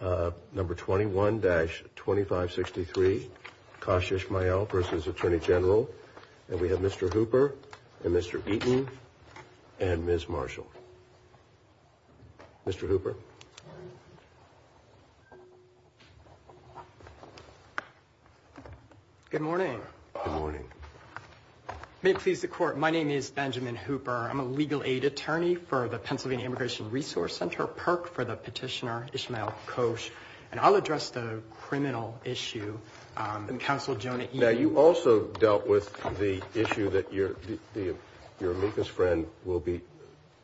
Number 21-2563, Kosh Ishmael v. Attorney General, and we have Mr. Hooper and Mr. Eaton and Ms. Marshall. Mr. Hooper. Good morning. May it please the Court, my name is Benjamin Hooper. I'm a legal aid attorney for the Pennsylvania Immigration Resource Center, PERC, for the petitioner Ishmael Kosh, and I'll address the criminal issue. Now, you also dealt with the issue that your amicus friend will be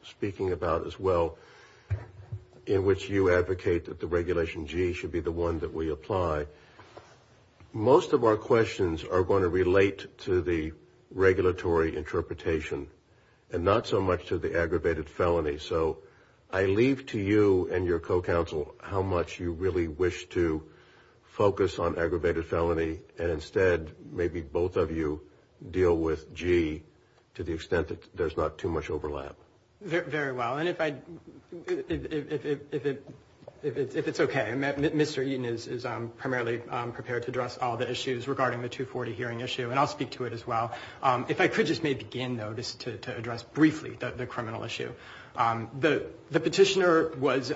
speaking about as well, in which you advocate that the Regulation G should be the one that we apply. Most of our questions are going to relate to the regulatory interpretation and not so much to the aggravated felony. So I leave to you and your co-counsel how much you really wish to focus on aggravated felony and instead maybe both of you deal with G to the extent that there's not too much overlap. Very well. And if it's okay, Mr. Eaton is primarily prepared to address all the issues regarding the 240 hearing issue, and I'll speak to it as well. If I could just maybe begin, though, just to address briefly the criminal issue. The petitioner was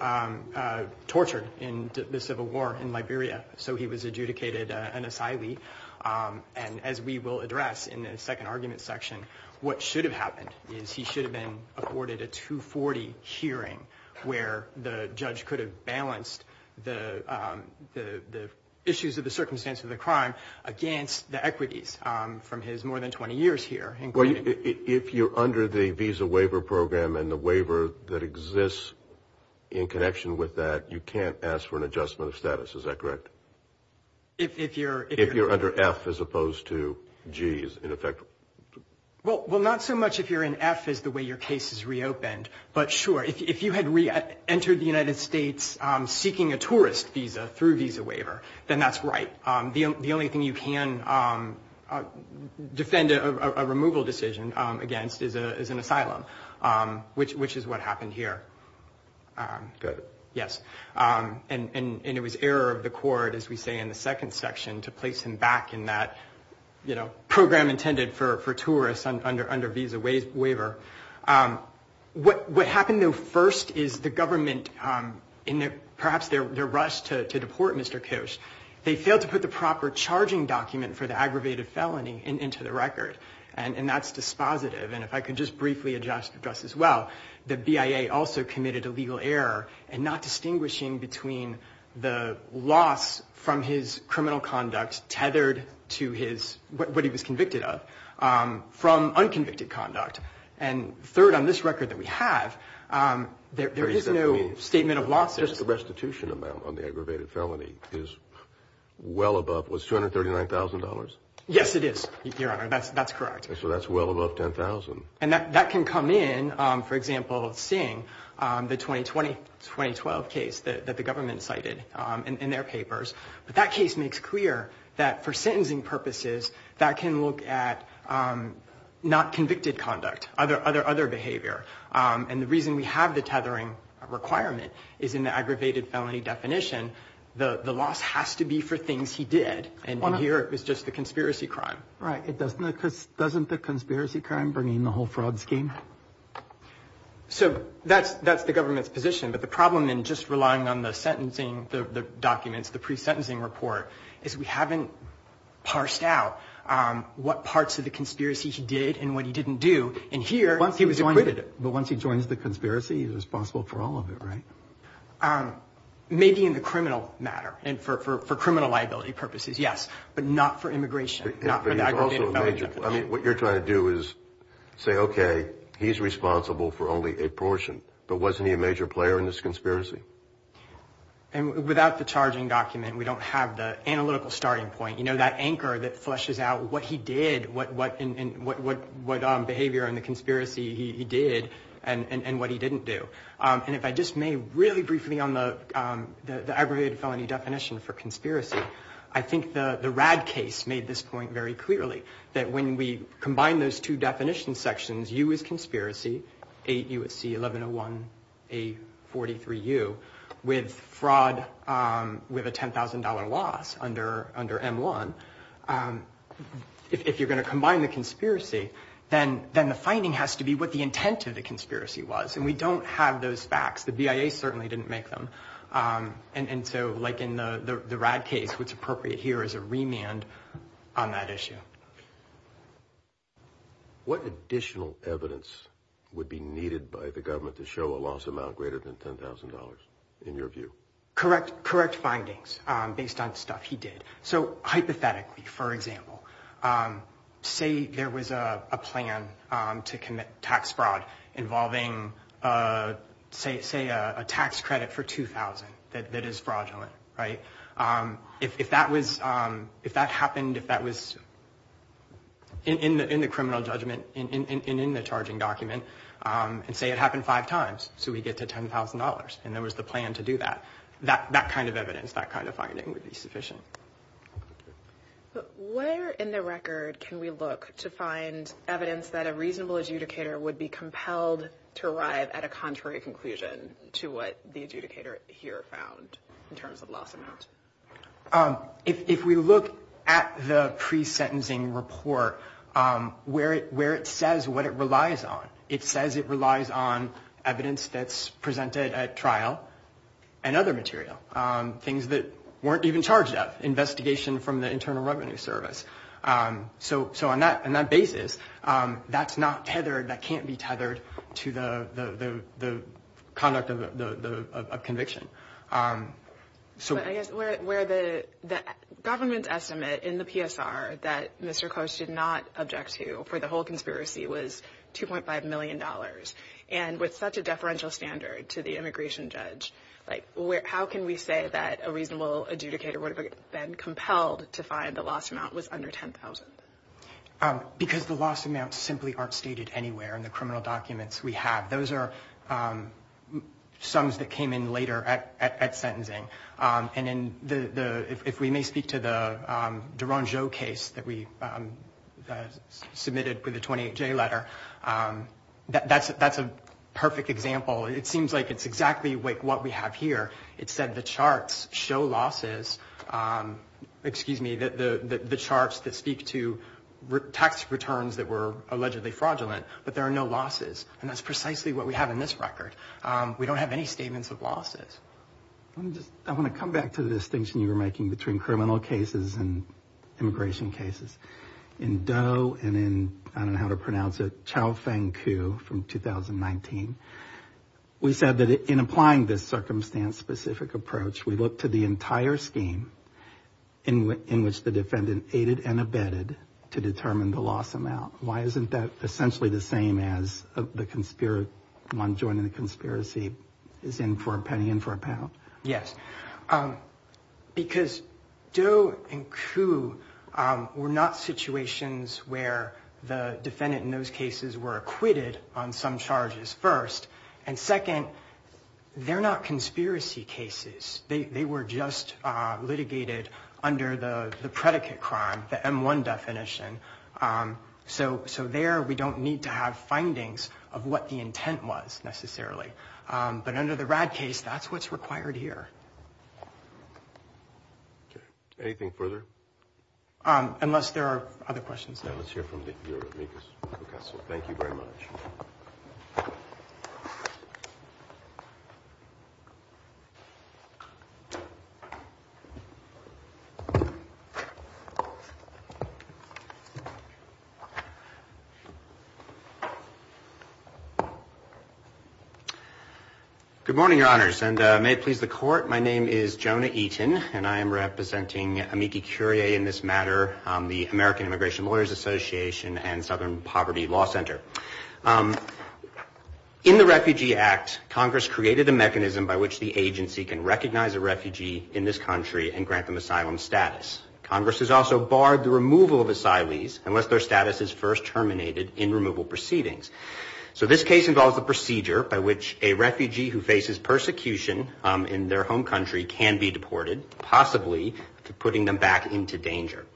tortured in the Civil War in Liberia, so he was adjudicated an asylee. And as we will address in the second argument section, what should have happened is he should have been afforded a 240 hearing where the judge could have balanced the issues of the circumstance of the crime against the equities from his more than 20 years here. If you're under the Visa Waiver Program and the waiver that exists in connection with that, you can't ask for an adjustment of status. Is that correct? If you're under F as opposed to G as an effect? Well, not so much if you're in F as the way your case is reopened, but sure, if you had entered the United States seeking a tourist visa through Visa Waiver, then that's right. The only thing you can defend a removal decision against is an asylum, which is what happened here. Got it. Yes. And it was error of the court, as we say in the second section, to place him back in that program intended for tourists under Visa Waiver. What happened, though, first is the government, in perhaps their rush to deport Mr. Kosh, they failed to put the proper charging document for the aggravated felony into the record. And that's dispositive. And if I could just briefly address as well, the BIA also committed a legal error in not distinguishing between the loss from his criminal conduct tethered to what he was convicted of from unconvicted conduct. And third, on this record that we have, there is no statement of losses. Just the restitution amount on the aggravated felony is well above, what, $239,000? Yes, it is, Your Honor. That's correct. So that's well above $10,000. And that can come in, for example, seeing the 2020-2012 case that the government cited in their papers. But that case makes clear that for sentencing purposes, that can look at not convicted conduct, other behavior. And the reason we have the tethering requirement is in the aggravated felony definition. The loss has to be for things he did. And in here, it was just the conspiracy crime. Right. Doesn't the conspiracy crime bring in the whole fraud scheme? So that's the government's position. But the problem in just relying on the sentencing documents, the pre-sentencing report, is we haven't parsed out what parts of the conspiracy he did and what he didn't do. And here, he was acquitted. But once he joins the conspiracy, he's responsible for all of it, right? Maybe in the criminal matter and for criminal liability purposes, yes, but not for immigration. I mean, what you're trying to do is say, okay, he's responsible for only a portion, but wasn't he a major player in this conspiracy? And without the charging document, we don't have the analytical starting point. You know, that anchor that fleshes out what he did, what behavior in the conspiracy he did, and what he didn't do. And if I just may, really briefly on the aggravated felony definition for conspiracy, I think the RAD case made this point very clearly, that when we combine those two definition sections, U is conspiracy, 8U at C, 1101A, 43U, with fraud with a $10,000 loss under M1, if you're going to combine the conspiracy, then the finding has to be what the intent of the conspiracy was. And we don't have those facts. The BIA certainly didn't make them. And so, like in the RAD case, what's appropriate here is a remand on that issue. What additional evidence would be needed by the government to show a loss amount greater than $10,000 in your view? Correct findings based on stuff he did. So hypothetically, for example, say there was a plan to commit tax fraud involving, say, a tax credit for $2,000 that is fraudulent, right? If that happened, if that was in the criminal judgment and in the charging document, and say it happened five times, so we get to $10,000, and there was the plan to do that, that kind of evidence, that kind of finding would be sufficient. Where in the record can we look to find evidence that a reasonable adjudicator would be compelled to arrive at a contrary conclusion to what the adjudicator here found in terms of loss amount? If we look at the pre-sentencing report, where it says what it relies on, it says it relies on evidence that's presented at trial and other material, things that weren't even charged of, investigation from the Internal Revenue Service. So on that basis, that's not tethered, that can't be tethered to the conduct of conviction. But I guess where the government's estimate in the PSR that Mr. Close did not object to for the whole conspiracy was $2.5 million, and with such a deferential standard to the immigration judge, how can we say that a reasonable adjudicator would have been compelled to find the loss amount was under $10,000? Because the loss amounts simply aren't stated anywhere in the criminal documents we have. Those are sums that came in later at sentencing. And if we may speak to the Derangeau case that we submitted with the 28J letter, that's a perfect example. It seems like it's exactly what we have here. It said the charts show losses, excuse me, the charts that speak to tax returns that were allegedly fraudulent, but there are no losses. And that's precisely what we have in this record. We don't have any statements of losses. I want to come back to the distinction you were making between criminal cases and immigration cases. In Doe and in, I don't know how to pronounce it, Chow Feng Ku from 2019, we said that in applying this circumstance-specific approach, we look to the entire scheme in which the defendant aided and abetted to determine the loss amount. Why isn't that essentially the same as the one joining the conspiracy is in for a penny and for a pound? Yes, because Doe and Ku were not situations where the defendant in those cases were acquitted on some charges first. And second, they're not conspiracy cases. They were just litigated under the predicate crime, the M1 definition. So there we don't need to have findings of what the intent was necessarily. But under the RAD case, that's what's required here. Anything further? Unless there are other questions. Let's hear from your amicus. Thank you very much. Good morning, Your Honors. And may it please the Court, my name is Jonah Eaton, and I am representing amicus curiae in this matter, the American Immigration Lawyers Association and Southern Poverty Law Center. In the Refugee Act, Congress created a mechanism by which the agency can recognize a refugee in this country and grant them asylum status. Congress has also barred the removal of asylees unless their status is first terminated in removal proceedings. So this case involves a procedure by which a refugee who faces persecution in their home country can be deported, possibly putting them back into danger.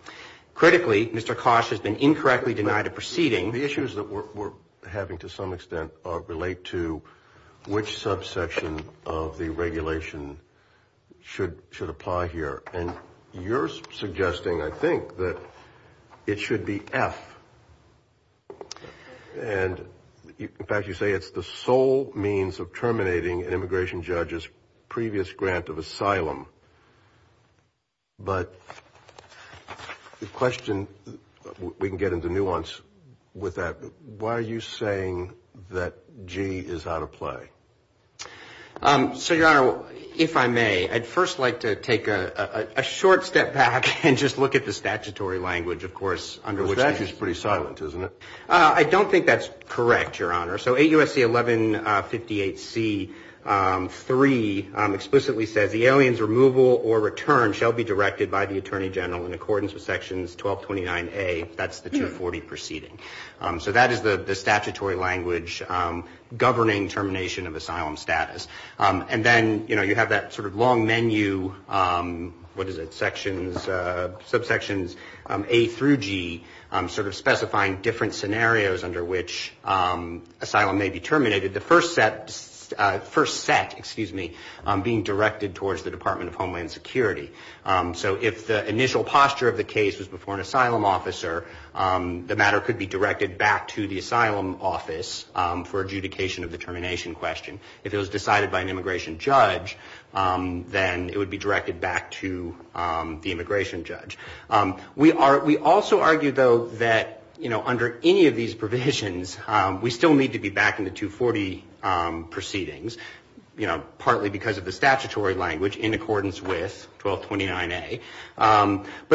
Critically, Mr. Kosh has been incorrectly denied a proceeding. The issues that we're having to some extent relate to which subsection of the regulation should apply here. And you're suggesting, I think, that it should be F. And in fact, you say it's the sole means of terminating an immigration judge's previous grant of asylum. But the question, we can get into nuance with that. Why are you saying that G is out of play? So, Your Honor, if I may, I'd first like to take a short step back and just look at the statutory language, of course. Under which statute is pretty silent, isn't it? I don't think that's correct, Your Honor. So 8 U.S.C. 1158 C 3 explicitly says the aliens removal or return shall be directed by the attorney general in accordance with Sections 1229 A. That's the 240 proceeding. So that is the statutory language governing termination of asylum status. And then, you know, you have that sort of long menu. What is it? Sections subsections A through G sort of specifying different scenarios under which asylum may be terminated. The first set first set, excuse me, being directed towards the Department of Homeland Security. So if the initial posture of the case was before an asylum officer, the matter could be directed back to the asylum office for adjudication of the termination question. If it was decided by an immigration judge, then it would be directed back to the immigration judge. We are we also argue, though, that, you know, under any of these provisions, we still need to be back in the 240 proceedings, you know, But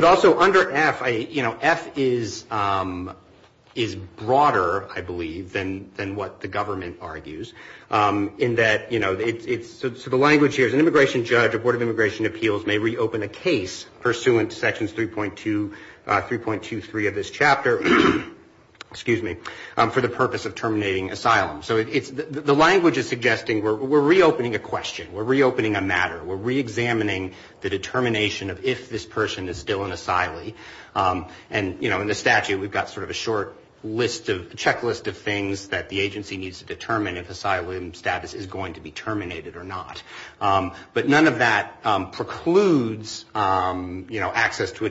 also under F, you know, F is broader, I believe, than what the government argues in that, you know, it's the language here is an immigration judge, a board of immigration appeals may reopen a case pursuant to Sections 3.23 of this chapter, excuse me, for the purpose of terminating asylum. So the language is suggesting we're reopening a question. We're reopening a matter. We're reexamining the determination of if this person is still an asylee. And, you know, in the statute, we've got sort of a short checklist of things that the agency needs to determine if asylum status is going to be terminated or not. But none of that precludes, you know, access to a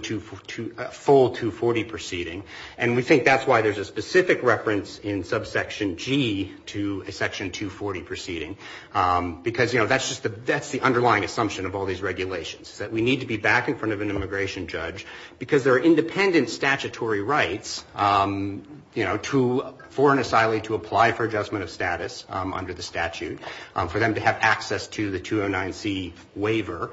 full 240 proceeding. And we think that's why there's a specific reference in subsection G to a Section 240 proceeding. Because, you know, that's just the underlying assumption of all these regulations is that we need to be back in front of an immigration judge because there are independent statutory rights, you know, for an asylee to apply for adjustment of status under the statute, for them to have access to the 209C waiver,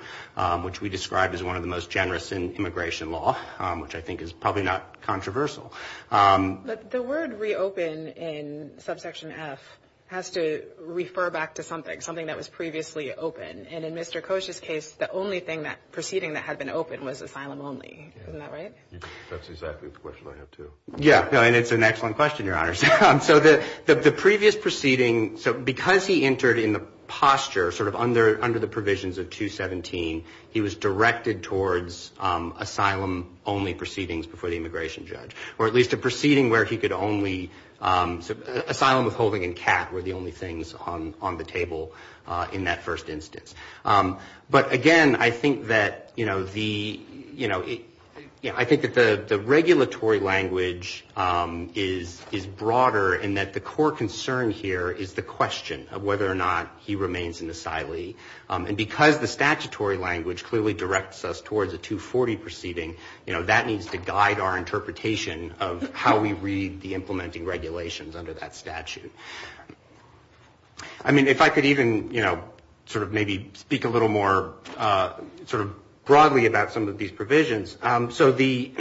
which we describe as one of the most generous in immigration law, which I think is probably not controversial. But the word reopen in subsection F has to refer back to something, something that was previously open. And in Mr. Koch's case, the only thing that proceeding that had been open was asylum only. Isn't that right? That's exactly the question I have, too. Yeah, and it's an excellent question, Your Honors. So the previous proceeding, so because he entered in the posture sort of under the provisions of 217, he was directed towards asylum only proceedings before the immigration judge. Or at least a proceeding where he could only, asylum, withholding and CAT were the only things on the table in that first instance. But again, I think that, you know, the, you know, I think that the regulatory language is broader in that the core concern here is the question of whether or not he remains an asylee. And because the statutory language clearly directs us towards a 240 proceeding, you know, that needs to guide our interpretation of how we read the implementing regulations under that statute. I mean, if I could even, you know, sort of maybe speak a little more sort of broadly about some of these provisions. So the...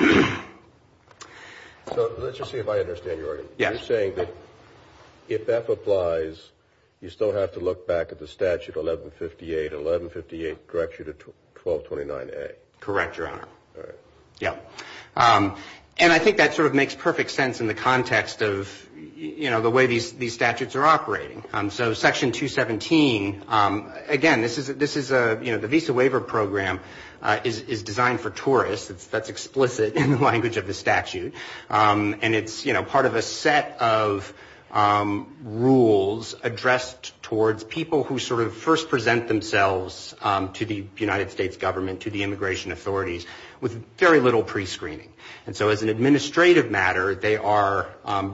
So let's just see if I understand your argument. You're saying that if F applies, you still have to look back at the statute 1158, 1158 directs you to 1229A. Correct, Your Honor. And I think that sort of makes perfect sense in the context of, you know, the way these statutes are operating. So Section 217, again, this is a, you know, the visa waiver program is designed for tourists. That's explicit in the language of the statute. And it's, you know, part of a set of rules addressed towards people who sort of first present themselves to the United States government, to the immigration authorities, with very little prescreening. And so as an administrative matter, they are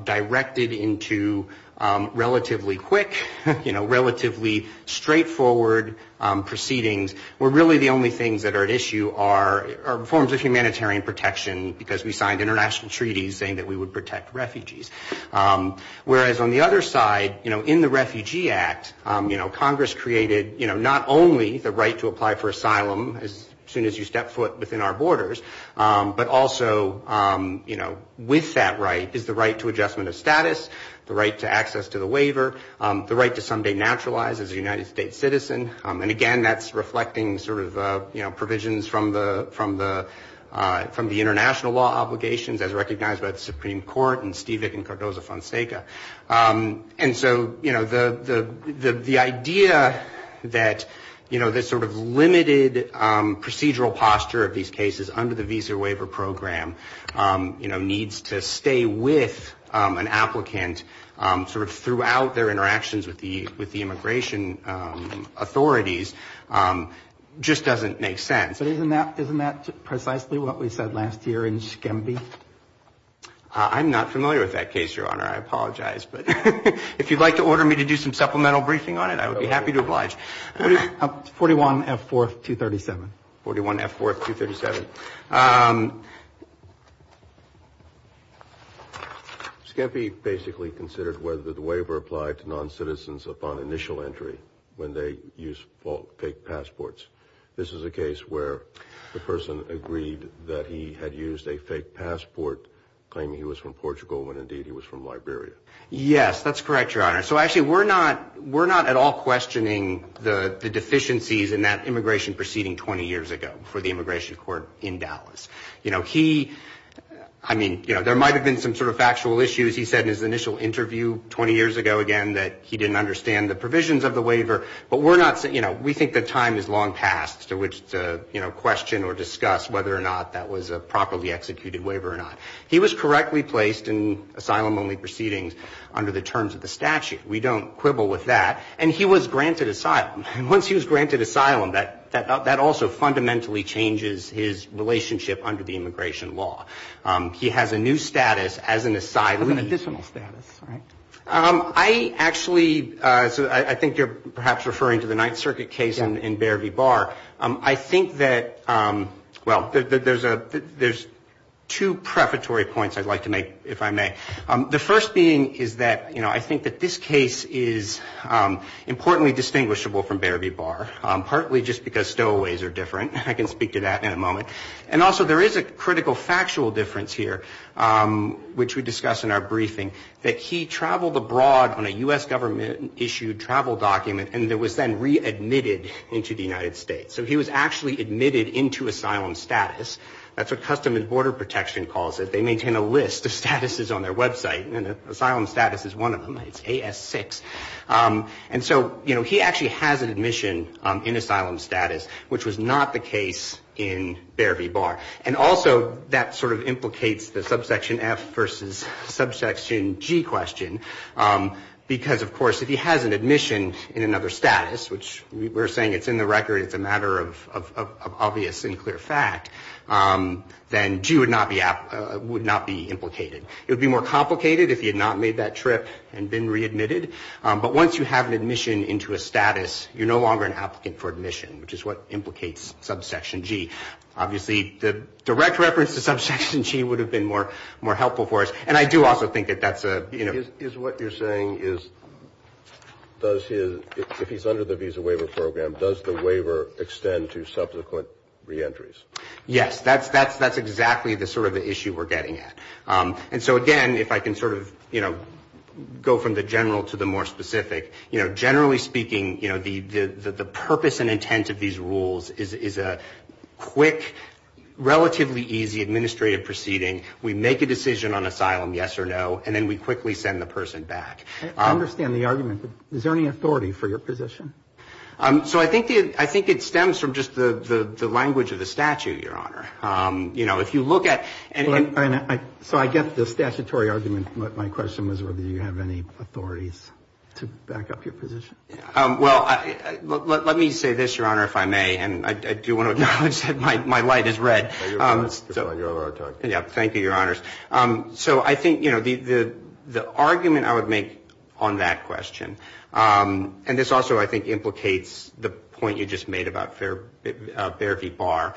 directed into relatively quick, you know, relatively straightforward proceedings, where really the only things that are at issue are forms of humanitarian protection, because we signed international treaties saying that we would protect refugees. Whereas on the other side, you know, in the Refugee Act, you know, Congress created, you know, not only the right to apply for asylum as soon as you step foot within our borders, but also, you know, with that right is the right to adjustment of status, the right to access to the waiver, the right to someday naturalize as a United States citizen. And again, that's reflecting sort of, you know, provisions from the international law obligations as recognized by the Supreme Court and Stevick and Cardozo-Fonseca. And so, you know, the idea that, you know, this sort of limited procedural posture of these cases under the visa waiver program, you know, needs to stay with an applicant sort of throughout their interactions with the immigration authorities. Just doesn't make sense. I'm not familiar with that case, Your Honor. I apologize. But if you'd like to order me to do some supplemental briefing on it, I would be happy to oblige. 41F4237. Thank you, Your Honor. Skempe basically considered whether the waiver applied to non-citizens upon initial entry when they use fake passports. This is a case where the person agreed that he had used a fake passport, claiming he was from Portugal when indeed he was from Liberia. Yes, that's correct, Your Honor. So actually, we're not at all questioning the deficiencies in that immigration proceeding 20 years ago for the immigration court in Dallas. You know, he, I mean, you know, there might have been some sort of factual issues. He said in his initial interview 20 years ago, again, that he didn't understand the provisions of the waiver. But we're not saying, you know, we think the time is long past to question or discuss whether or not that was a properly executed waiver or not. He was correctly placed in asylum-only proceedings under the terms of the statute. We don't quibble with that. And he was granted asylum. And once he was granted asylum, that also fundamentally changes his relationship under the immigration law. He has a new status as an asylee. I actually, I think you're perhaps referring to the Ninth Circuit case in Beare v. Barr. I think that, well, there's two prefatory points I'd like to make, if I may. The first being is that, you know, I think that this case is importantly distinguishable from Beare v. Barr, partly just because stowaways are different. I can speak to that in a moment. But I can also speak to the fact that in Beare v. Barr briefing that he traveled abroad on a U.S. government-issued travel document and was then readmitted into the United States. So he was actually admitted into asylum status. That's what Customs and Border Protection calls it. They maintain a list of statuses on their website. And asylum status is one of them. It's AS6. And so, you know, he actually has an admission in asylum status, which was not the case in Beare v. Barr. And also that sort of implicates the subsection F versus subsection G question. Because, of course, if he has an admission in another status, which we're saying it's in the record, it's a matter of obvious and clear fact, then G would not be implicated. It would be more complicated if he had not made that trip and been readmitted. But once you have an admission into a status, you're no longer an applicant for admission, which is what implicates subsection G. Obviously, the direct reference to subsection G would have been more helpful for us. And I do also think that that's a... Is what you're saying is if he's under the visa waiver program, does the waiver extend to subsequent reentries? Yes, that's exactly the sort of issue we're getting at. And so, again, if I can sort of, you know, go from the general to the more specific, you know, generally speaking, you know, the purpose and intent of these rules is a quick, relatively easy administrative proceeding. We make a decision on asylum, yes or no, and then we quickly send the person back. I understand the argument, but is there any authority for your position? So I think it stems from just the language of the statute, Your Honor. You know, if you look at... So I get the statutory argument, but my question was whether you have any authorities to back up your position. Well, let me say this, Your Honor, if I may, and I do want to acknowledge that my light is red. Thank you, Your Honors. So I think, you know, the argument I would make on that question, and this also, I think, implicates the point you just made about Bear v. Barr,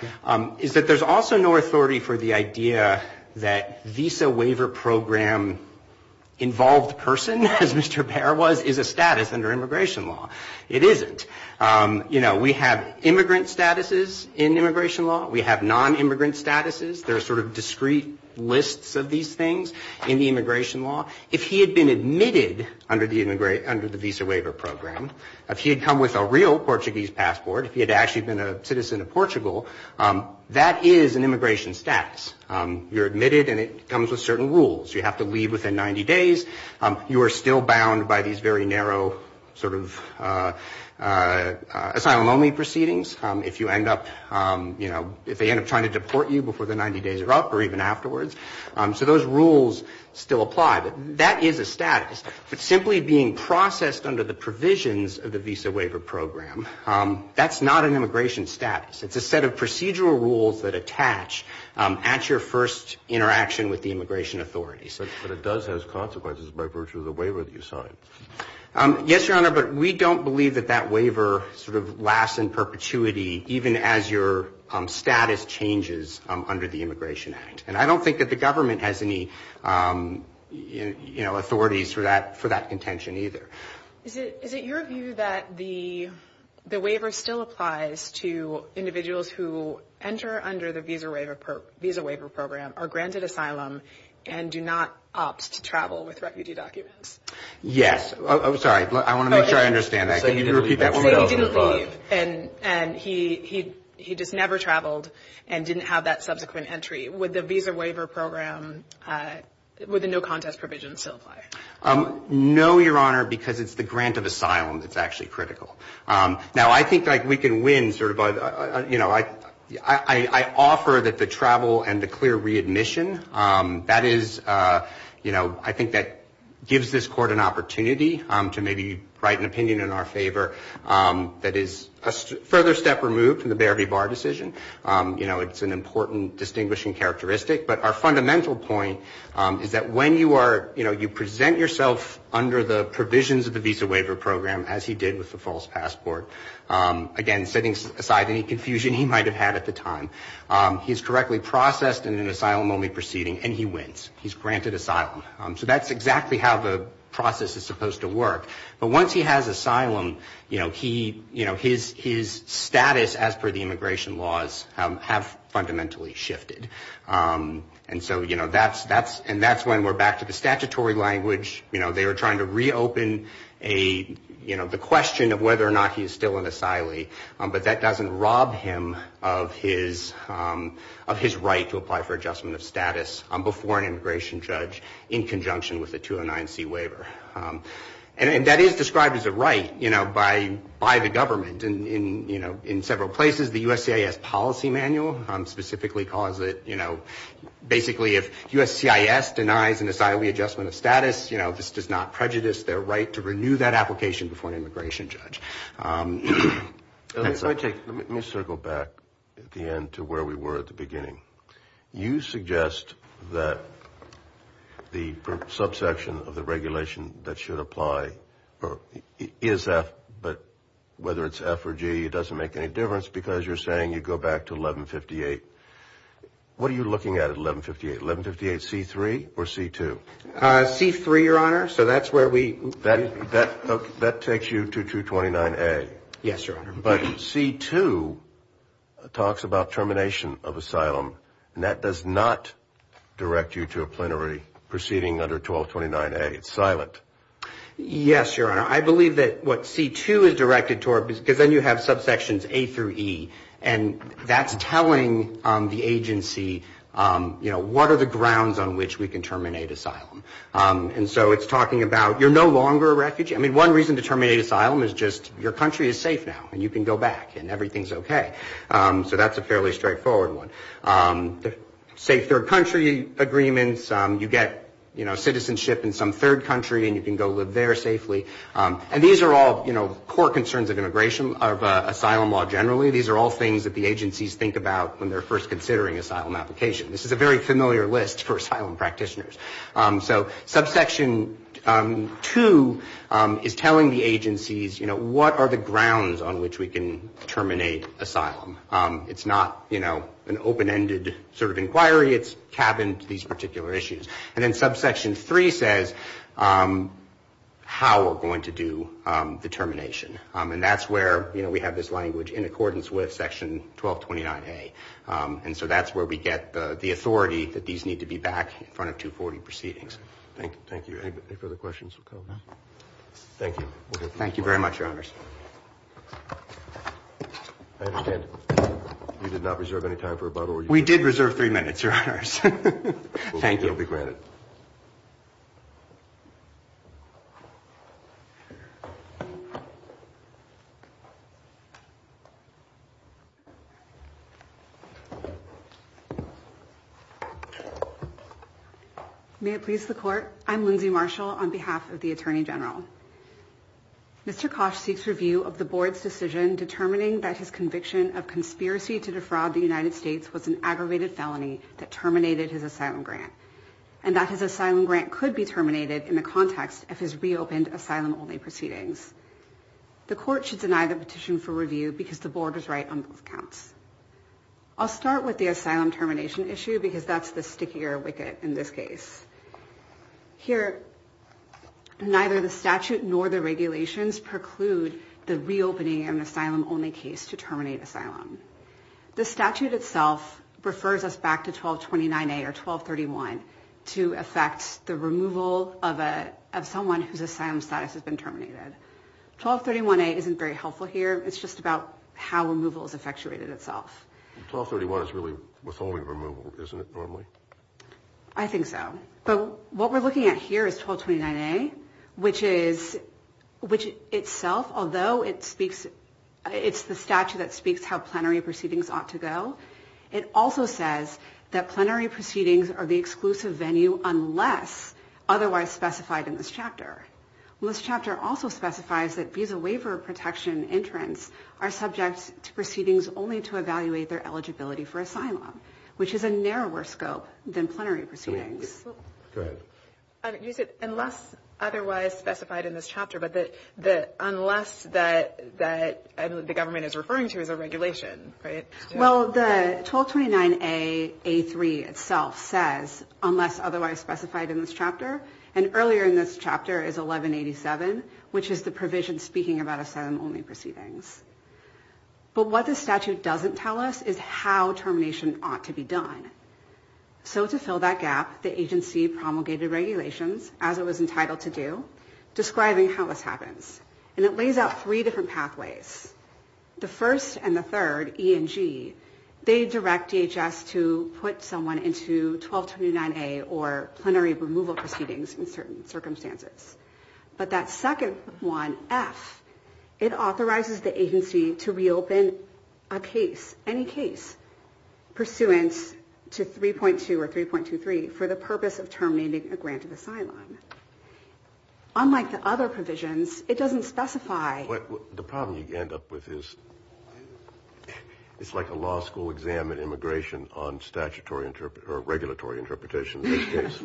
is that there's also no authority for the idea that visa waiver program involved person, as Mr. Bear was, is a status under immigration law. It isn't. You know, we have immigrant statuses in immigration law. We have non-immigrant statuses. There are sort of discrete lists of these things in the immigration law. If he had been admitted under the visa waiver program, if he had come with a real Portuguese passport, if he had actually been a citizen of Portugal, that is an immigration status. You're admitted and it comes with certain rules. You have to leave within 90 days. You are still bound by these very narrow sort of asylum-only proceedings if you end up, you know, if they end up trying to deport you before the 90 days are up or even afterwards. So those rules still apply. But that is a status. But simply being processed under the provisions of the visa waiver program, that's not an immigration status. It's a set of procedural rules that attach at your first interaction with the immigration authorities. But it does have consequences by virtue of the waiver that you sign. Yes, Your Honor, but we don't believe that that waiver sort of lasts in perpetuity even as your status changes under the Immigration Act. And I don't think that the government has any, you know, authorities for that contention either. Is it your view that the waiver still applies to individuals who enter under the visa waiver program, are granted asylum and do not opt to travel with Yes. I'm sorry. I want to make sure I understand that. Can you repeat that one more time? He didn't leave and he just never traveled and didn't have that subsequent entry. Would the visa waiver program, would the no contest provision still apply? No, Your Honor, because it's the grant of asylum that's actually critical. Now I think like we can win sort of by, you know, I offer that the travel and the clear opportunity to maybe write an opinion in our favor that is a further step removed from the Baird v. Barr decision. You know, it's an important distinguishing characteristic. But our fundamental point is that when you are, you know, you present yourself under the provisions of the visa waiver program as he did with the false passport, again, setting aside any confusion he might have had at the time, he's correctly processed in an asylum only proceeding and he wins. He's granted asylum. So that's exactly how the process is supposed to work. But once he has asylum, you know, he, you know, his status as per the immigration laws have fundamentally shifted. And so, you know, that's when we're back to the statutory language. You know, they were trying to reopen a, you know, the question of whether or not he's still an asylee, but that doesn't rob him of his right to apply for adjustment of status before an immigration judge in conjunction with the 209C waiver. And that is described as a right, you know, by the government in, you know, in several places. The USCIS policy manual specifically calls it, you know, basically if USCIS denies an asylee adjustment of status, you know, this does not prejudice their right to renew that application before an immigration judge. Let me circle back at the end to where we were at the beginning. You suggest that the subsection of the regulation that should apply to asylum is F, but whether it's F or G, it doesn't make any difference because you're saying you go back to 1158. What are you looking at at 1158? 1158C3 or C2? C3, Your Honor, so that's where we... That takes you to 229A. Yes, Your Honor. But C2 talks about termination of asylum, and that does not direct you to a plenary proceeding under 1229A. It's silent. Yes, Your Honor. I believe that what C2 is directed toward, because then you have subsections A through E, and that's telling the agency, you know, what are the grounds on which we can terminate asylum. And so it's talking about, you're no longer a refugee. I mean, one reason to terminate asylum is just your country is safe now, and you can go back and everything's okay. So that's a fairly straightforward one. Safe third country agreements, you get, you know, citizenship in some third country and you can go live there safely. And these are all, you know, core concerns of immigration, of asylum law generally. These are all things that the agencies think about when they're first considering asylum application. This is a very familiar list for asylum practitioners. So subsection 2 is telling the agencies, you know, what are the grounds on which we can terminate asylum. It's not, you know, an open-ended sort of inquiry. It's cabined to these particular issues. And then subsection 3 says how we're going to do the termination. And that's where, you know, we have this language in accordance with section 1229A. And so that's where we get the authority that these need to be back in front of 240 proceedings. Thank you. Any further questions? Thank you very much, Your Honors. May it please the Court. I'm Lindsay Marshall on behalf of the Attorney General. Mr. Koch seeks review of the Board's decision determining that his conviction of conspiracy to defraud the United States was an aggravated felony that terminated his asylum grant, and that his asylum grant could be terminated in the context of his reopened asylum-only proceedings. The Court should deny the petition for review because the Board is right on both counts. I'll start with the asylum termination issue because that's the stickier wicket in this case. Here, neither the statute nor the regulations preclude the reopening of an asylum-only case to terminate asylum. The statute itself refers us back to 1229A or 1231 to affect the removal of someone whose asylum status has been terminated. 1231A isn't very helpful here. It's just about how removal has effectuated itself. 1231 is really withholding removal, isn't it, normally? I think so. But what we're looking at here is 1229A, which itself, although it's the statute that speaks how plenary proceedings ought to go, it also says that plenary proceedings are the exclusive venue unless otherwise specified in this chapter. This chapter also specifies that visa waiver protection entrants are subject to proceedings only to evaluate their eligibility status. This is a narrower scope than plenary proceedings. Unless otherwise specified in this chapter, but unless the government is referring to as a regulation, right? Well, the 1229A itself says unless otherwise specified in this chapter. And earlier in this chapter is 1187, which is the provision speaking about asylum-only proceedings. But what the statute doesn't tell us is how termination ought to be done. So to fill that gap, the agency promulgated regulations, as it was entitled to do, describing how this happens. And it lays out three different pathways. The first and the third, E and G, they direct DHS to put someone into 1229A or plenary removal proceedings in certain circumstances. But that second one, F, it authorizes the agency to reopen a case, any case, pursuant to 3.2 or 3.23 for the purpose of terminating a grant of asylum. Unlike the other provisions, it doesn't specify... The problem you end up with is it's like a law school exam in immigration on statutory or regulatory interpretation of this case.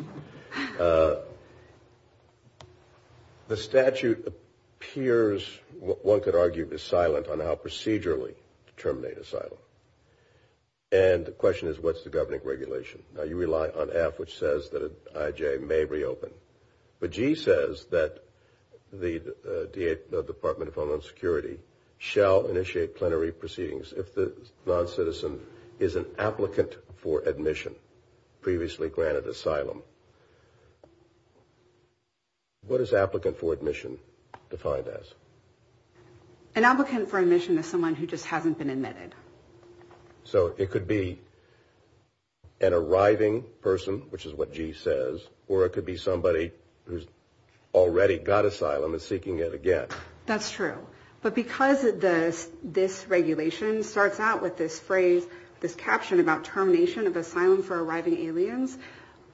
The statute appears, one could argue, is silent on how procedurally to terminate asylum. And the question is, what's the governing regulation? Now, you rely on F, which says that IJ may reopen. But G says that the Department of Homeland Security shall initiate plenary proceedings if the non-citizen is an applicant for admission, previously granted asylum. What is applicant for admission defined as? An applicant for admission is someone who just hasn't been admitted. So it could be an arriving person, which is what G says, or it could be somebody who's already got asylum and is seeking it again. That's true. But because this regulation starts out with this phrase, this caption about termination of asylum for arriving aliens,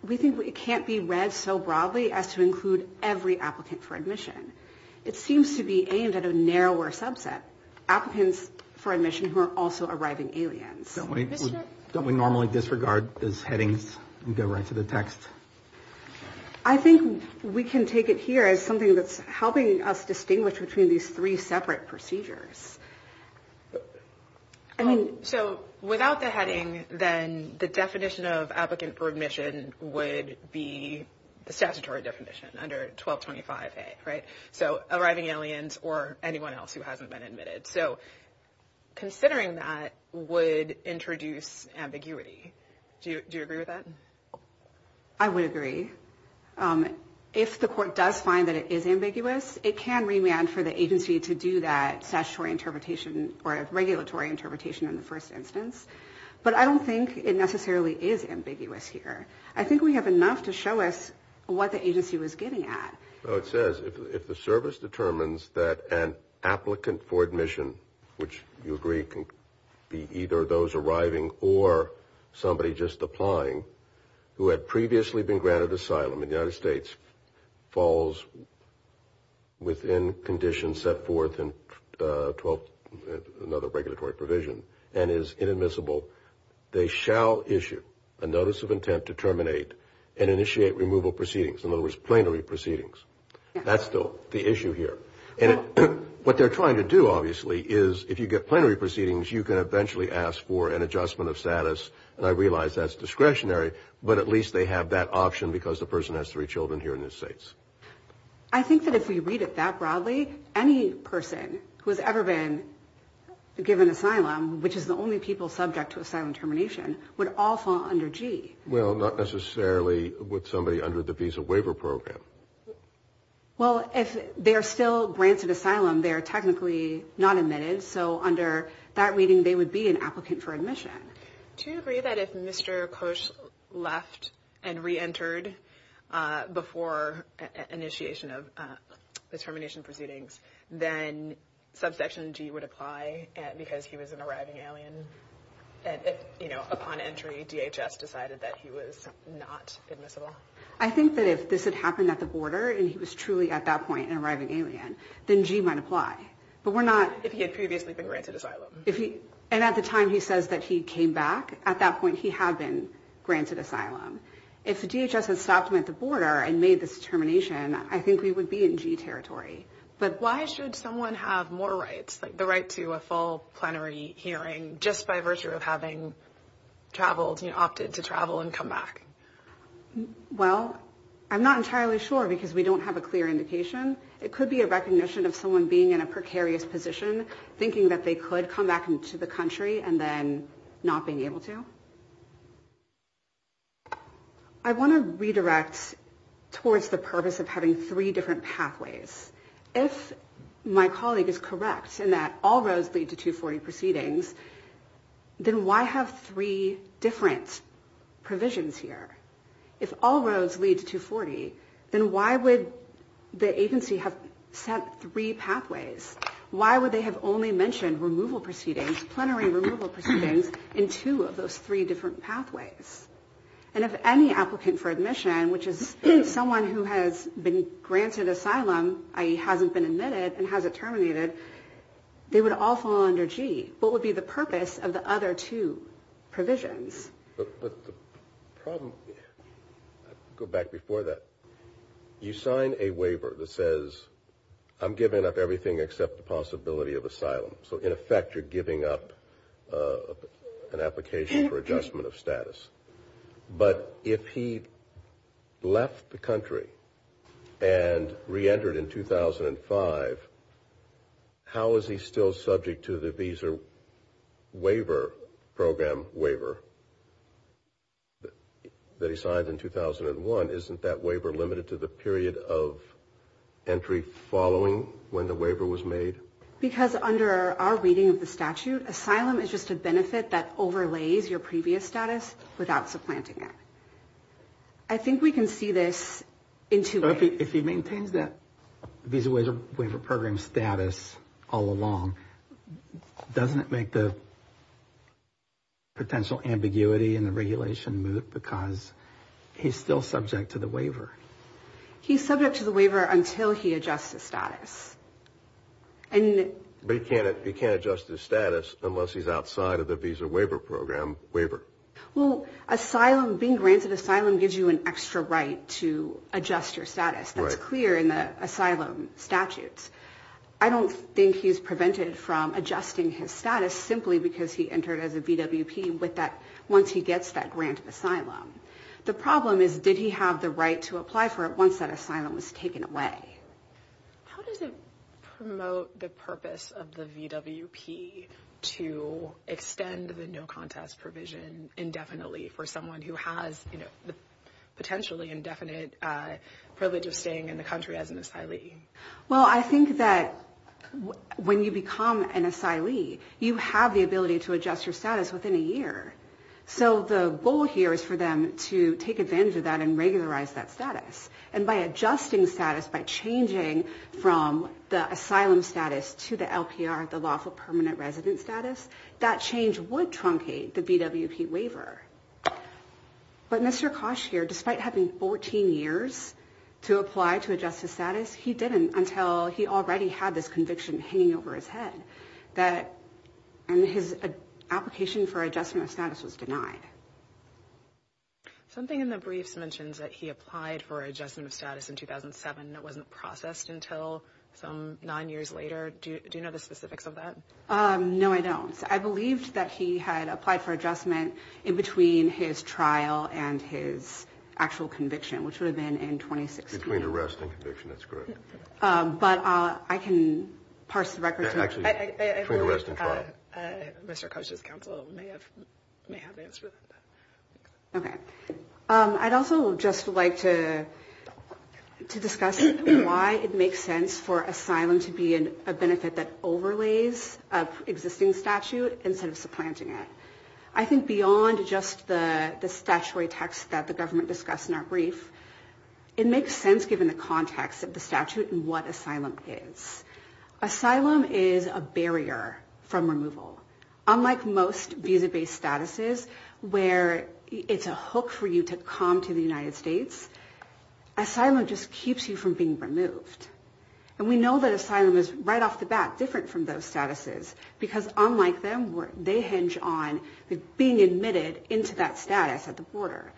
we think it can't be read so broadly as to include every applicant for admission. It seems to be aimed at a narrower subset, applicants for admission who are also arriving aliens. Don't we normally disregard those headings and go right to the text? I think we can take it here as something that's helping us distinguish between these three separate procedures. So without the heading, then the definition of applicant for admission would be the statutory definition under 1225A, right? So arriving aliens or anyone else who hasn't been admitted. So considering that would introduce ambiguity. Do you agree with that? I would agree. If the court does find that it is ambiguous, it can remand for the agency to do that statutory interpretation or regulatory interpretation in the first instance. But I don't think it necessarily is ambiguous here. I think we have enough to show us what the agency was getting at. It says if the service determines that an applicant for admission, which you agree can be either those arriving or somebody just applying, who had previously been granted asylum in the United States, falls within conditions set forth in another regulatory provision and is inadmissible, they shall issue a notice of intent to terminate and initiate removal proceedings. In other words, plenary proceedings. That's still the issue here. And what they're trying to do, obviously, is if you get plenary proceedings, you can eventually ask for an adjustment of status. And I realize that's discretionary, but at least they have that option because the person has three children here in the States. I think that if we read it that broadly, any person who has ever been given asylum, which is the only people subject to asylum termination, would all fall under G. Well, not necessarily with somebody under the Visa Waiver Program. Well, if they're still granted asylum, they're technically not admitted, so under that reading they would be an applicant for admission. Do you agree that if Mr. Koch left and reentered before initiation of the termination proceedings, then subsection G would apply because he was an arriving alien? And upon entry, DHS decided that he was not admissible? I think that if this had happened at the border and he was truly at that point an arriving alien, then G might apply. If he had previously been granted asylum. And at the time he says that he came back, at that point he had been granted asylum. If DHS had stopped him at the border and made this termination, I think we would be in G territory. But why should someone have more rights, like the right to a full plenary hearing just by virtue of having traveled, opted to travel and come back? Well, I'm not entirely sure because we don't have a clear indication. But I think it's a precarious position, thinking that they could come back into the country and then not being able to. I want to redirect towards the purpose of having three different pathways. If my colleague is correct in that all roads lead to 240 proceedings, then why have three different provisions here? If all roads lead to 240, then why would the agency have set three pathways? Why would they have only mentioned removal proceedings, plenary removal proceedings, in two of those three different pathways? And if any applicant for admission, which is someone who has been granted asylum, i.e. hasn't been admitted and hasn't terminated, they would all fall under G. What would be the purpose of the other two provisions? Go back before that. The other two provisions are the possibility of asylum. So in effect, you're giving up an application for adjustment of status. But if he left the country and reentered in 2005, how is he still subject to the visa waiver program waiver that he signed in 2001? Isn't that waiver limited to the period of entry following when the waiver was made? Because under our reading of the statute, asylum is just a benefit that overlays your previous status without supplanting it. I think we can see this in two ways. So if he maintains that visa waiver program status all along, doesn't it make the potential ambiguity in the regulation moot because he's still subject to the waiver? He's subject to the waiver until he adjusts his status. But he can't adjust his status unless he's outside of the visa waiver program waiver. Well, being granted asylum gives you an extra right to adjust your status. That's clear in the asylum statutes. I don't think he's prevented from adjusting his status simply because he entered as a VWP once he gets that grant of asylum. The problem is, did he have the right to apply for it once that asylum was taken away? How does it promote the purpose of the VWP to extend the no-contest provision indefinitely for someone who has the potentially indefinite privilege of staying in the country as an asylee? Well, I think that when you become an asylee, you have the ability to adjust your status within a year. So the goal here is for them to take advantage of that and regularize that status. And by adjusting status, by changing from the asylum status to the LPR, the lawful permanent resident status, that change would truncate the VWP waiver. But Mr. Kosh here, despite having 14 years to apply to adjust his status, he didn't until he already had this conviction hanging over his head. And his application for adjustment of status was denied. Something in the briefs mentions that he applied for adjustment of status in 2007 and it wasn't processed until some nine years later. Do you know the specifics of that? No, I don't. I believed that he had applied for adjustment in between his trial and his actual conviction, which would have been in 2016. Mr. Kosh's counsel may have answered that. Okay. I'd also just like to discuss why it makes sense for asylum to be a benefit that overlays an existing statute instead of supplanting it. I think beyond just the statutory text that the government discussed in our brief, it makes sense given the context of the statute and what asylum is. Asylum is a barrier from removal. Unlike most visa-based statuses where it's a hook for you to come to the United States, asylum just keeps you from being removed. And we know that asylum is right off the bat different from those statuses, because unlike them, they hinge on being admitted into that status at the border.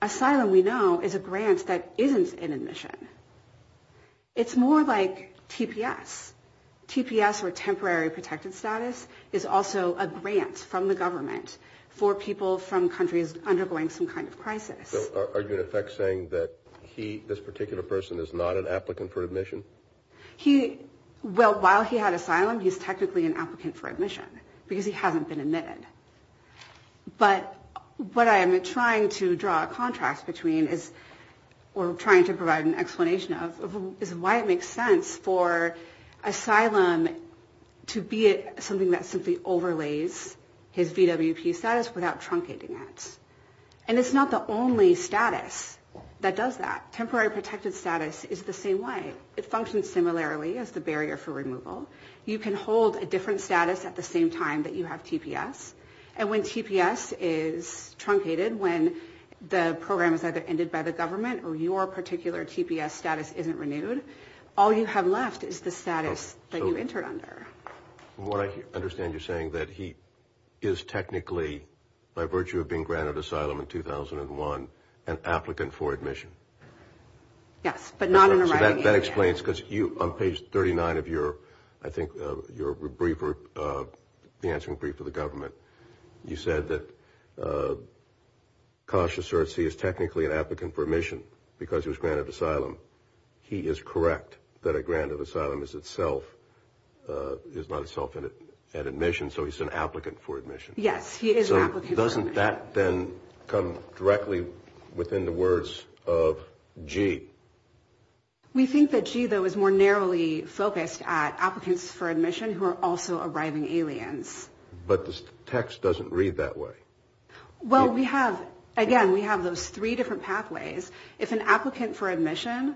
Asylum, we know, is a grant that isn't an admission. TPS, or temporary protected status, is also a grant from the government for people from countries undergoing some kind of crisis. So are you in effect saying that he, this particular person, is not an applicant for admission? Well, while he had asylum, he's technically an applicant for admission, because he hasn't been admitted. But what I am trying to draw a contrast between, or trying to provide an explanation of, is why it makes sense for asylum to be a benefit that overlays an existing statute. And why it makes sense for asylum to be something that simply overlays his VWP status without truncating it. And it's not the only status that does that. Temporary protected status is the same way. It functions similarly as the barrier for removal. You can hold a different status at the same time that you have TPS, and when TPS is truncated, when the program is either ended by the government or your particular TPS status isn't renewed, all you have left is the same barrier. So what I understand you're saying is that he is technically, by virtue of being granted asylum in 2001, an applicant for admission. Yes, but not in the writing area. So that explains, because on page 39 of your, I think, your answer in brief to the government, you said that Kasha asserts he is technically an applicant for admission, because he was granted asylum. He is correct that a grant of asylum is itself, is not itself an admission, so he's an applicant for admission. Yes, he is an applicant for admission. So doesn't that then come directly within the words of G? We think that G, though, is more narrowly focused at applicants for admission who are also arriving aliens. But the text doesn't read that way. Well, we have, again, we have those three different pathways. If an applicant for admission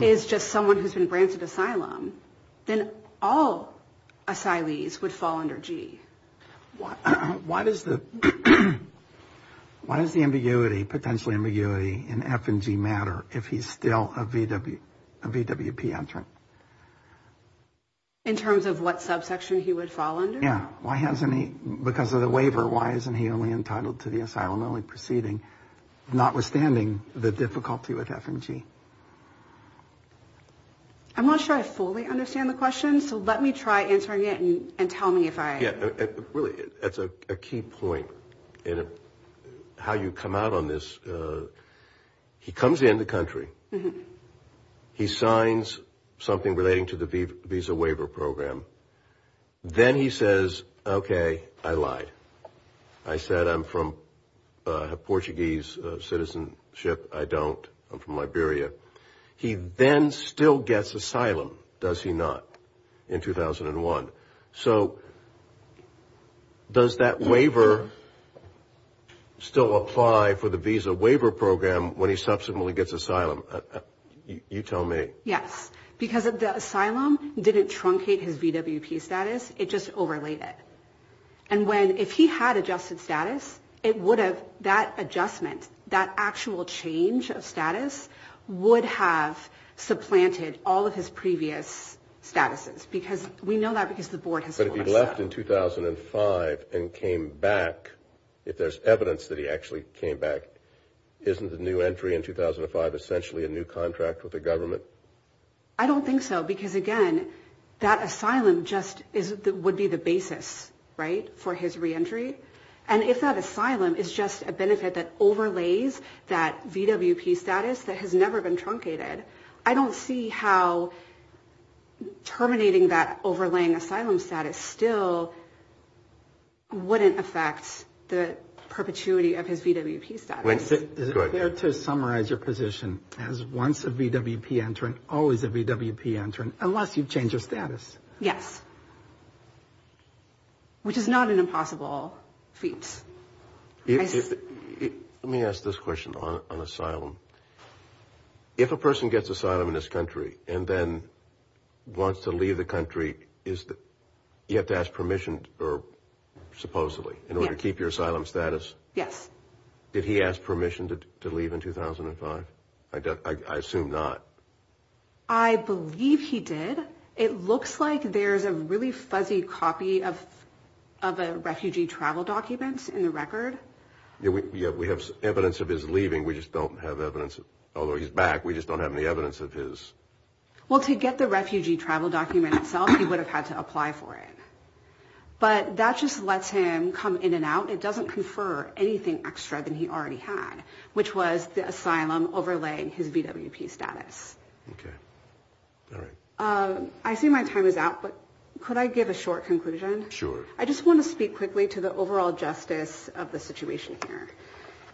is just someone who's been granted asylum, then all asylees would fall under G. Why does the ambiguity, potential ambiguity in F and G matter if he's still a VWP entrant? In terms of what subsection he would fall under? I'm not sure I fully understand the question, so let me try answering it and tell me if I... Yeah, really, that's a key point in how you come out on this. He comes in the country, he signs something relating to the visa waiver program, then he says, okay, I lied. I said I'm from Portuguese citizenship, I don't, I'm from Liberia. He then still gets asylum, does he not, in 2001? So does that waiver still apply for the visa waiver program when he subsequently gets asylum? You tell me. Yes, because the asylum didn't truncate his VWP status, it just overlaid it. And when, if he had adjusted status, it would have, that adjustment, that actual change of status, would have supplanted all of his previous statuses. Because we know that because the board has told us that. But if he left in 2005 and came back, if there's evidence that he actually came back, isn't a new entry in 2005 essentially a new contract with the government? I don't think so, because again, that asylum just is, would be the basis, right, for his reentry. And if that asylum is just a benefit that overlays that VWP status that has never been truncated, I don't see how terminating that overlaying asylum status still wouldn't affect the perpetuity of his VWP status. Is it fair to summarize your position as once a VWP entrant, always a VWP entrant, unless you've changed your status? Yes. Which is not an impossible feat. Let me ask this question on asylum. If a person gets asylum in this country and then wants to leave the country, you have to ask permission, supposedly, in order to keep your asylum status? Yes. Did he ask permission to leave in 2005? I assume not. I believe he did. It looks like there's a really fuzzy copy of a refugee travel document in the record. We have evidence of his leaving. We just don't have evidence, although he's back, we just don't have any evidence of his... ...anything extra than he already had, which was the asylum overlaying his VWP status. I see my time is out, but could I give a short conclusion? Sure. I just want to speak quickly to the overall justice of the situation here.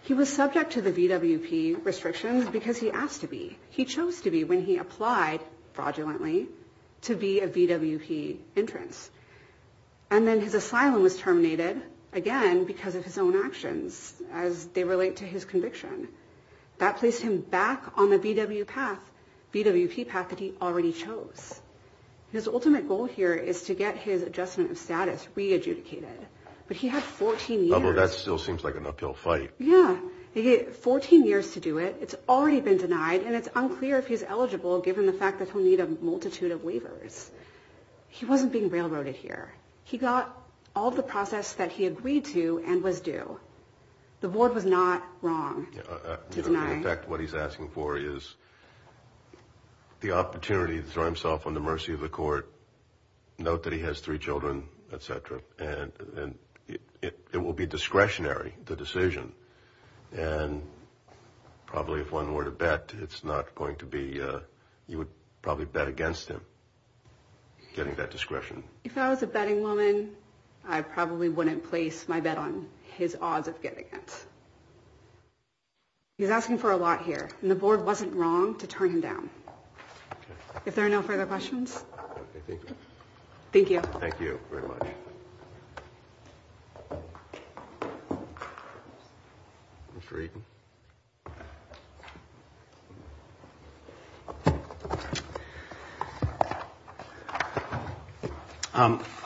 He was subject to the VWP restrictions because he asked to be. He chose to be when he applied, fraudulently, to be a VWP entrant. And then his asylum was terminated, again, because of his own actions, as they relate to his conviction. That placed him back on the VWP path that he already chose. His ultimate goal here is to get his adjustment of status re-adjudicated, but he had 14 years... That still seems like an uphill fight. Yeah, he had 14 years to do it. It's already been denied, and it's unclear if he's eligible, given the fact that he'll need a multitude of waivers. He wasn't being railroaded here. He got all the process that he agreed to and was due. The board was not wrong to deny... In effect, what he's asking for is the opportunity to throw himself on the mercy of the court, note that he has three children, etc., and it will be discretionary, the decision. And probably, if one were to bet, it's not going to be...you would probably bet against him. Getting that discretion. If I was a betting woman, I probably wouldn't place my bet on his odds of getting it. He's asking for a lot here, and the board wasn't wrong to turn him down. If there are no further questions... Thank you. Thank you very much.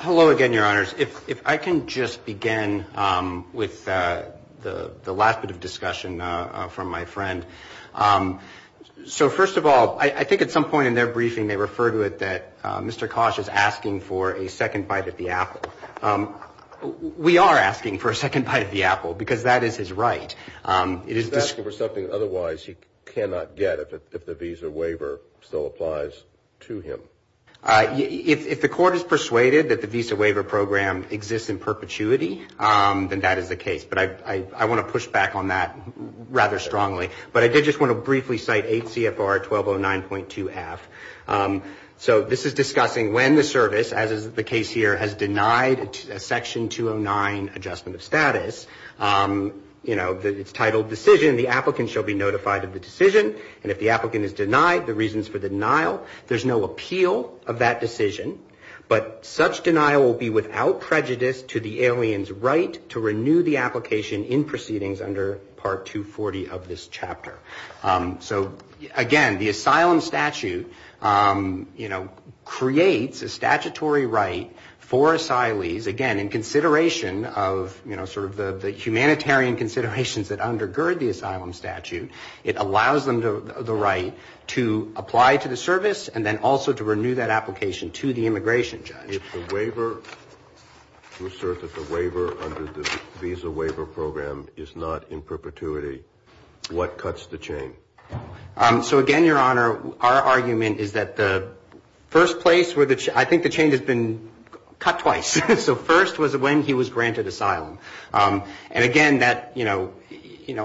Hello again, Your Honors. If I can just begin with the last bit of discussion from my friend. So first of all, I think at some point in their briefing they refer to it that Mr. Kosh is asking for a second bite at the apple. We are asking for a second bite at the apple, because that is his right. He's asking for something otherwise he cannot get if the visa waiver still applies to him. If the court is persuaded that the visa waiver program exists in perpetuity, then that is the case. But I want to push back on that rather strongly. But I did just want to briefly cite 8 CFR 1209.2 F. So this is discussing when the service, as is the case here, has denied Section 209 adjustment of status. You know, it's titled decision, the applicant shall be notified of the decision. And if the applicant is denied, the reasons for the denial, there's no appeal of that decision. But such denial will be without prejudice to the alien's right to renew the application in proceedings under Part 240 of this chapter. So again, the asylum statute, you know, creates a statutory right for asylees, again, in consideration of, you know, sort of the humanitarian considerations that undergird the asylum statute, it allows them the right to apply to the service and then also to renew that application to the immigration judge. If the waiver, to assert that the waiver under the visa waiver program is not in perpetuity, what cuts the chain? So again, Your Honor, our argument is that the first place where the, I think the chain has been cut twice. So first was when he was granted asylum. And again, that, you know,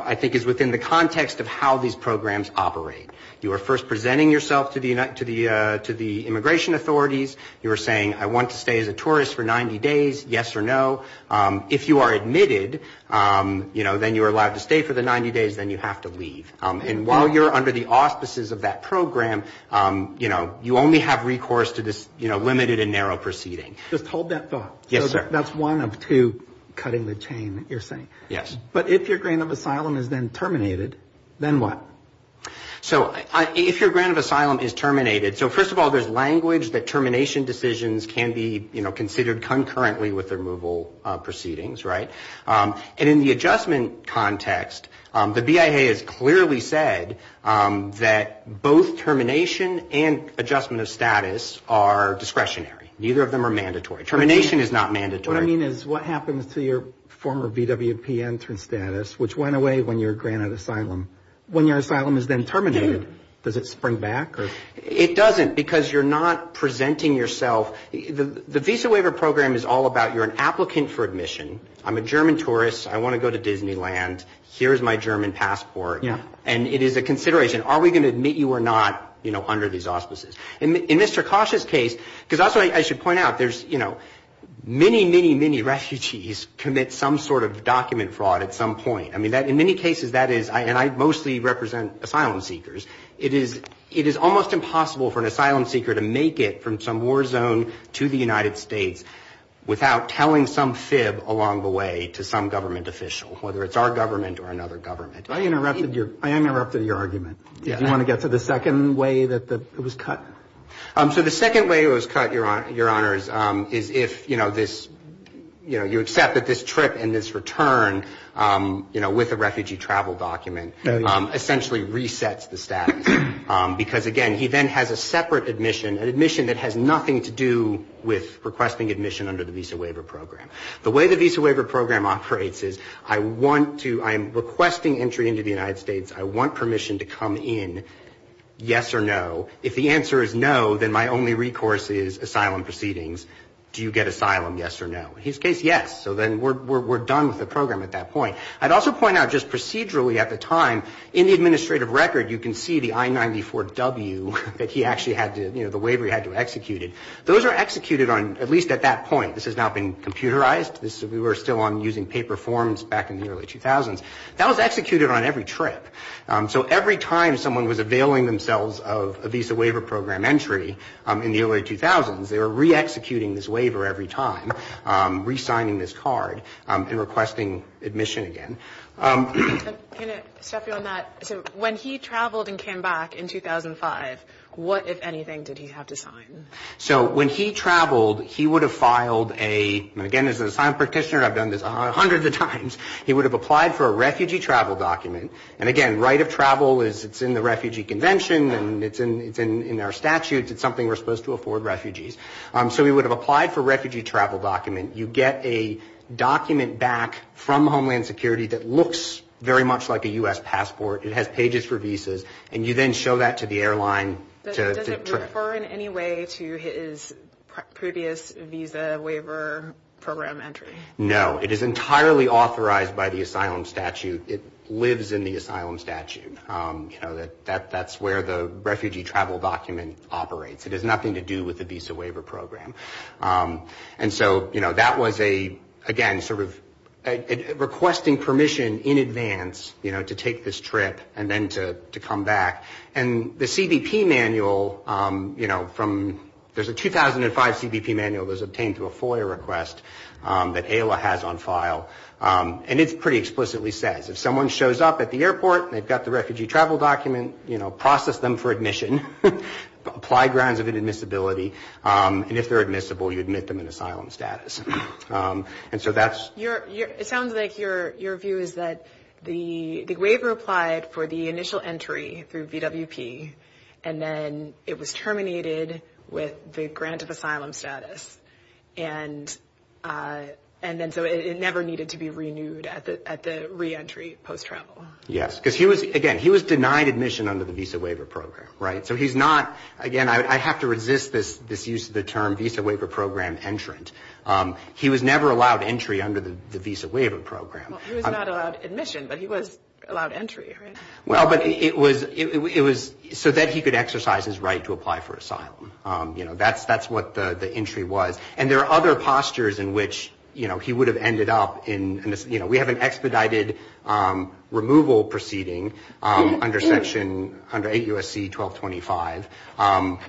I think is within the context of how these programs operate. You know, you were saying to the immigration authorities, you were saying I want to stay as a tourist for 90 days, yes or no. If you are admitted, you know, then you are allowed to stay for the 90 days, then you have to leave. And while you're under the auspices of that program, you know, you only have recourse to this, you know, limited and narrow proceeding. Just hold that thought. That's one of two cutting the chain that you're saying. Yes. But if your grant of asylum is then terminated, then what? So if your grant of asylum is terminated, so first of all, there's language that termination decisions can be, you know, considered concurrently with removal proceedings, right? And in the adjustment context, the BIA has clearly said that both termination and adjustment of status are discretionary. Neither of them are mandatory. Termination is not mandatory. What I mean is what happens to your former VWP entrance status, which went away when you're granted asylum? When your asylum is then terminated, does it spring back? It doesn't, because you're not presenting yourself. The visa waiver program is all about you're an applicant for admission. I'm a German tourist. I want to go to Disneyland. Here's my German passport. And it is a consideration, are we going to admit you or not, you know, under these auspices. In Mr. Kosh's case, because that's what I should point out, there's, you know, many, many, many refugees commit some sort of document fraud at some point. I mean, in many cases that is, and I mostly represent asylum seekers, it is almost impossible for an asylum seeker to make it from some war zone to the United States without telling some fib along the way to some government official, whether it's our government or another country. I am interrupted at your argument. Do you want to get to the second way that it was cut? So the second way it was cut, Your Honors, is if, you know, this, you know, you accept that this trip and this return, you know, with a refugee travel document, essentially resets the status. Because again, he then has a separate admission, an admission that has nothing to do with requesting admission under the visa waiver program. The way the visa waiver program operates is I want to, I am requesting entry into the United States. I want permission to come in, yes or no. If the answer is no, then my only recourse is asylum proceedings. Do you get asylum, yes or no? In his case, yes. So then we're done with the program at that point. I'd also point out just procedurally at the time, in the administrative record, you can see the I-94-W that he actually had to, you know, the waiver he had to execute it. Those are executed on, at least at that point. This has now been computerized. We were still on using paper forms back in the early 2000s. That was executed on every trip. So every time someone was availing themselves of a visa waiver program entry in the early 2000s, they were re-executing this waiver every time, re-signing this card and requesting admission again. Can I step you on that? So when he traveled and came back in 2005, what, if anything, did he have to sign? So when he traveled, he would have filed a, again, as an asylum practitioner, I've done this hundreds of times, he would have applied for a refugee travel document. And again, right of travel is, it's in the Refugee Convention and it's in our statutes. It's something we're supposed to afford refugees. So he would have applied for a refugee travel document. You get a document back from Homeland Security that looks very much like a U.S. passport. It has pages for visas. And you then show that to the airline. Does it refer in any way to his previous visa waiver program entry? No. It is entirely authorized by the asylum statute. It lives in the asylum statute. That's where the refugee travel document operates. It has nothing to do with the visa waiver program. And so, you know, that was a, again, sort of requesting permission in advance, you know, to take this trip and then to come back. And the CBP manual, you know, from, there's a 2005 CBP manual that was obtained through a FOIA request that AILA has on file. And it pretty explicitly says, if someone shows up at the airport, they've got the refugee travel document, you know, process them for admission, apply grounds of inadmissibility, and if they're admissible, you admit them in asylum status. And so that's... It sounds like your view is that the waiver applied for the initial entry through VWP, and then it was terminated with the grant of asylum status. And then so it never needed to be renewed at the reentry post-travel. Yes, because he was, again, he was denied admission under the visa waiver program, right? So he's not, again, I have to resist this use of the term visa waiver program entrant. He was never allowed entry under the visa waiver program. He was not allowed admission, but he was allowed entry, right? Well, but it was, it was so that he could exercise his right to apply for asylum. You know, that's, that's what the entry was. And there are other postures in which, you know, he would have ended up in, you know, we have an expedited removal proceeding under Section, under 8 U.S.C. 1225,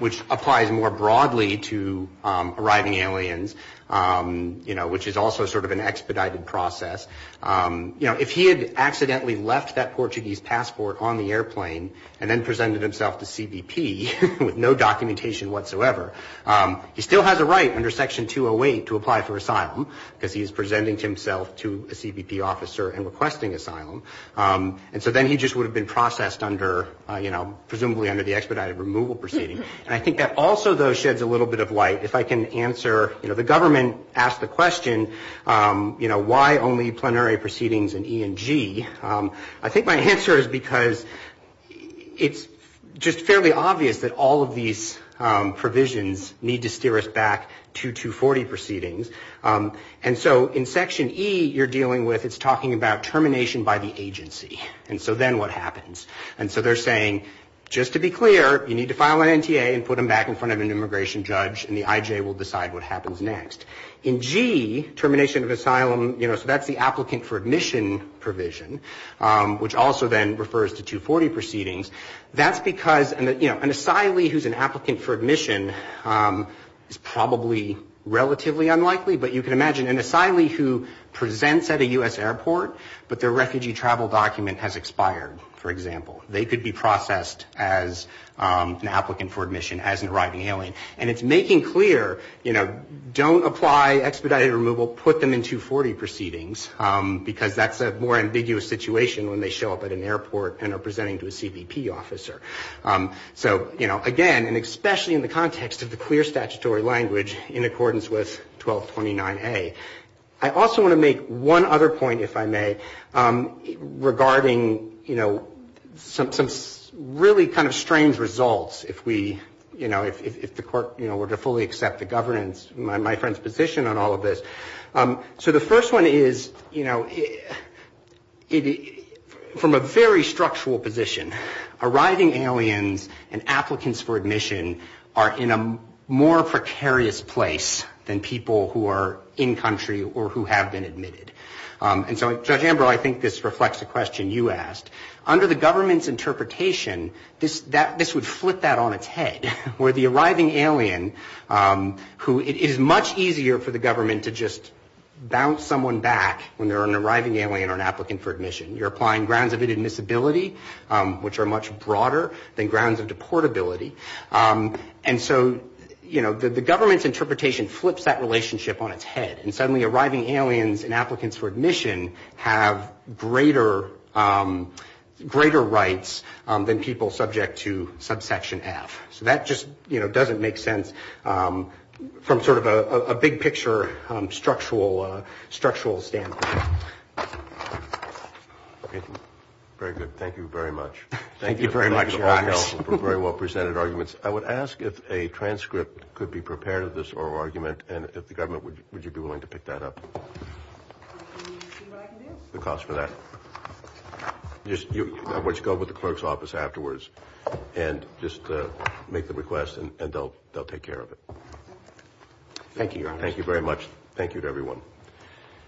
which applies more broadly to arriving aliens. You know, which is also sort of an expedited process. You know, if he had accidentally left that Portuguese passport on the airplane and then presented himself to CBP with no documentation whatsoever, he still has a right under Section 208 to apply for asylum, because he's presenting himself to a CBP officer and requesting asylum. And so then he just would have been processed under, you know, presumably under the expedited removal proceeding. And I think that also, though, sheds a little bit of light. If I can answer, you know, the government asked the question, you know, why only plenary proceedings in E and G? I think my answer is because it's just fairly obvious that all of these provisions need to steer us back to 240 proceedings. And so in Section E, you're dealing with, it's talking about termination by the agency. And so then what happens? And so they're saying, just to be clear, you need to file an NTA and put him back in front of an immigration judge and the ICE and the IJ will decide what happens next. In G, termination of asylum, you know, so that's the applicant for admission provision, which also then refers to 240 proceedings. That's because, you know, an asylee who's an applicant for admission is probably relatively unlikely, but you can imagine an asylee who presents at a U.S. airport, but their refugee travel document has expired, for example. They could be processed as an applicant for admission as an arriving alien. And it's making clear, you know, don't apply expedited removal, put them in 240 proceedings, because that's a more ambiguous situation when they show up at an airport and are presenting to a CBP officer. So, you know, again, and especially in the context of the clear statutory language in accordance with 1229A. I also want to make one other point, if I may, regarding, you know, some really kind of strange results if we, you know, if the court, you know, were to fully accept the governance, my friend's position on all of this. So the first one is, you know, from a very structural position, arriving aliens and applicants for admission are in a more precarious place than people who are in-country or who have been admitted. And so, Judge Ambrose, I think this reflects a question you asked. Under the government's interpretation, this would flip that on its head, where the arriving aliens are in a more precarious place than people who are in-country or who have been admitted. So you have an arriving alien who it is much easier for the government to just bounce someone back when they're an arriving alien or an applicant for admission. You're applying grounds of inadmissibility, which are much broader than grounds of deportability. And so, you know, the government's interpretation flips that relationship on its head. And suddenly arriving aliens and applicants for admission have greater rights than people subject to subsection F. So that just, you know, doesn't make sense from sort of a big picture structural standpoint. Very good. Thank you very much. Thank you very much. Very well presented arguments. I would ask if a transcript could be prepared of this oral argument and if the government would be willing to pick that up. The cost for that. Let's go with the clerk's office afterwards and just make the request and they'll take care of it. Thank you. Thank you very much.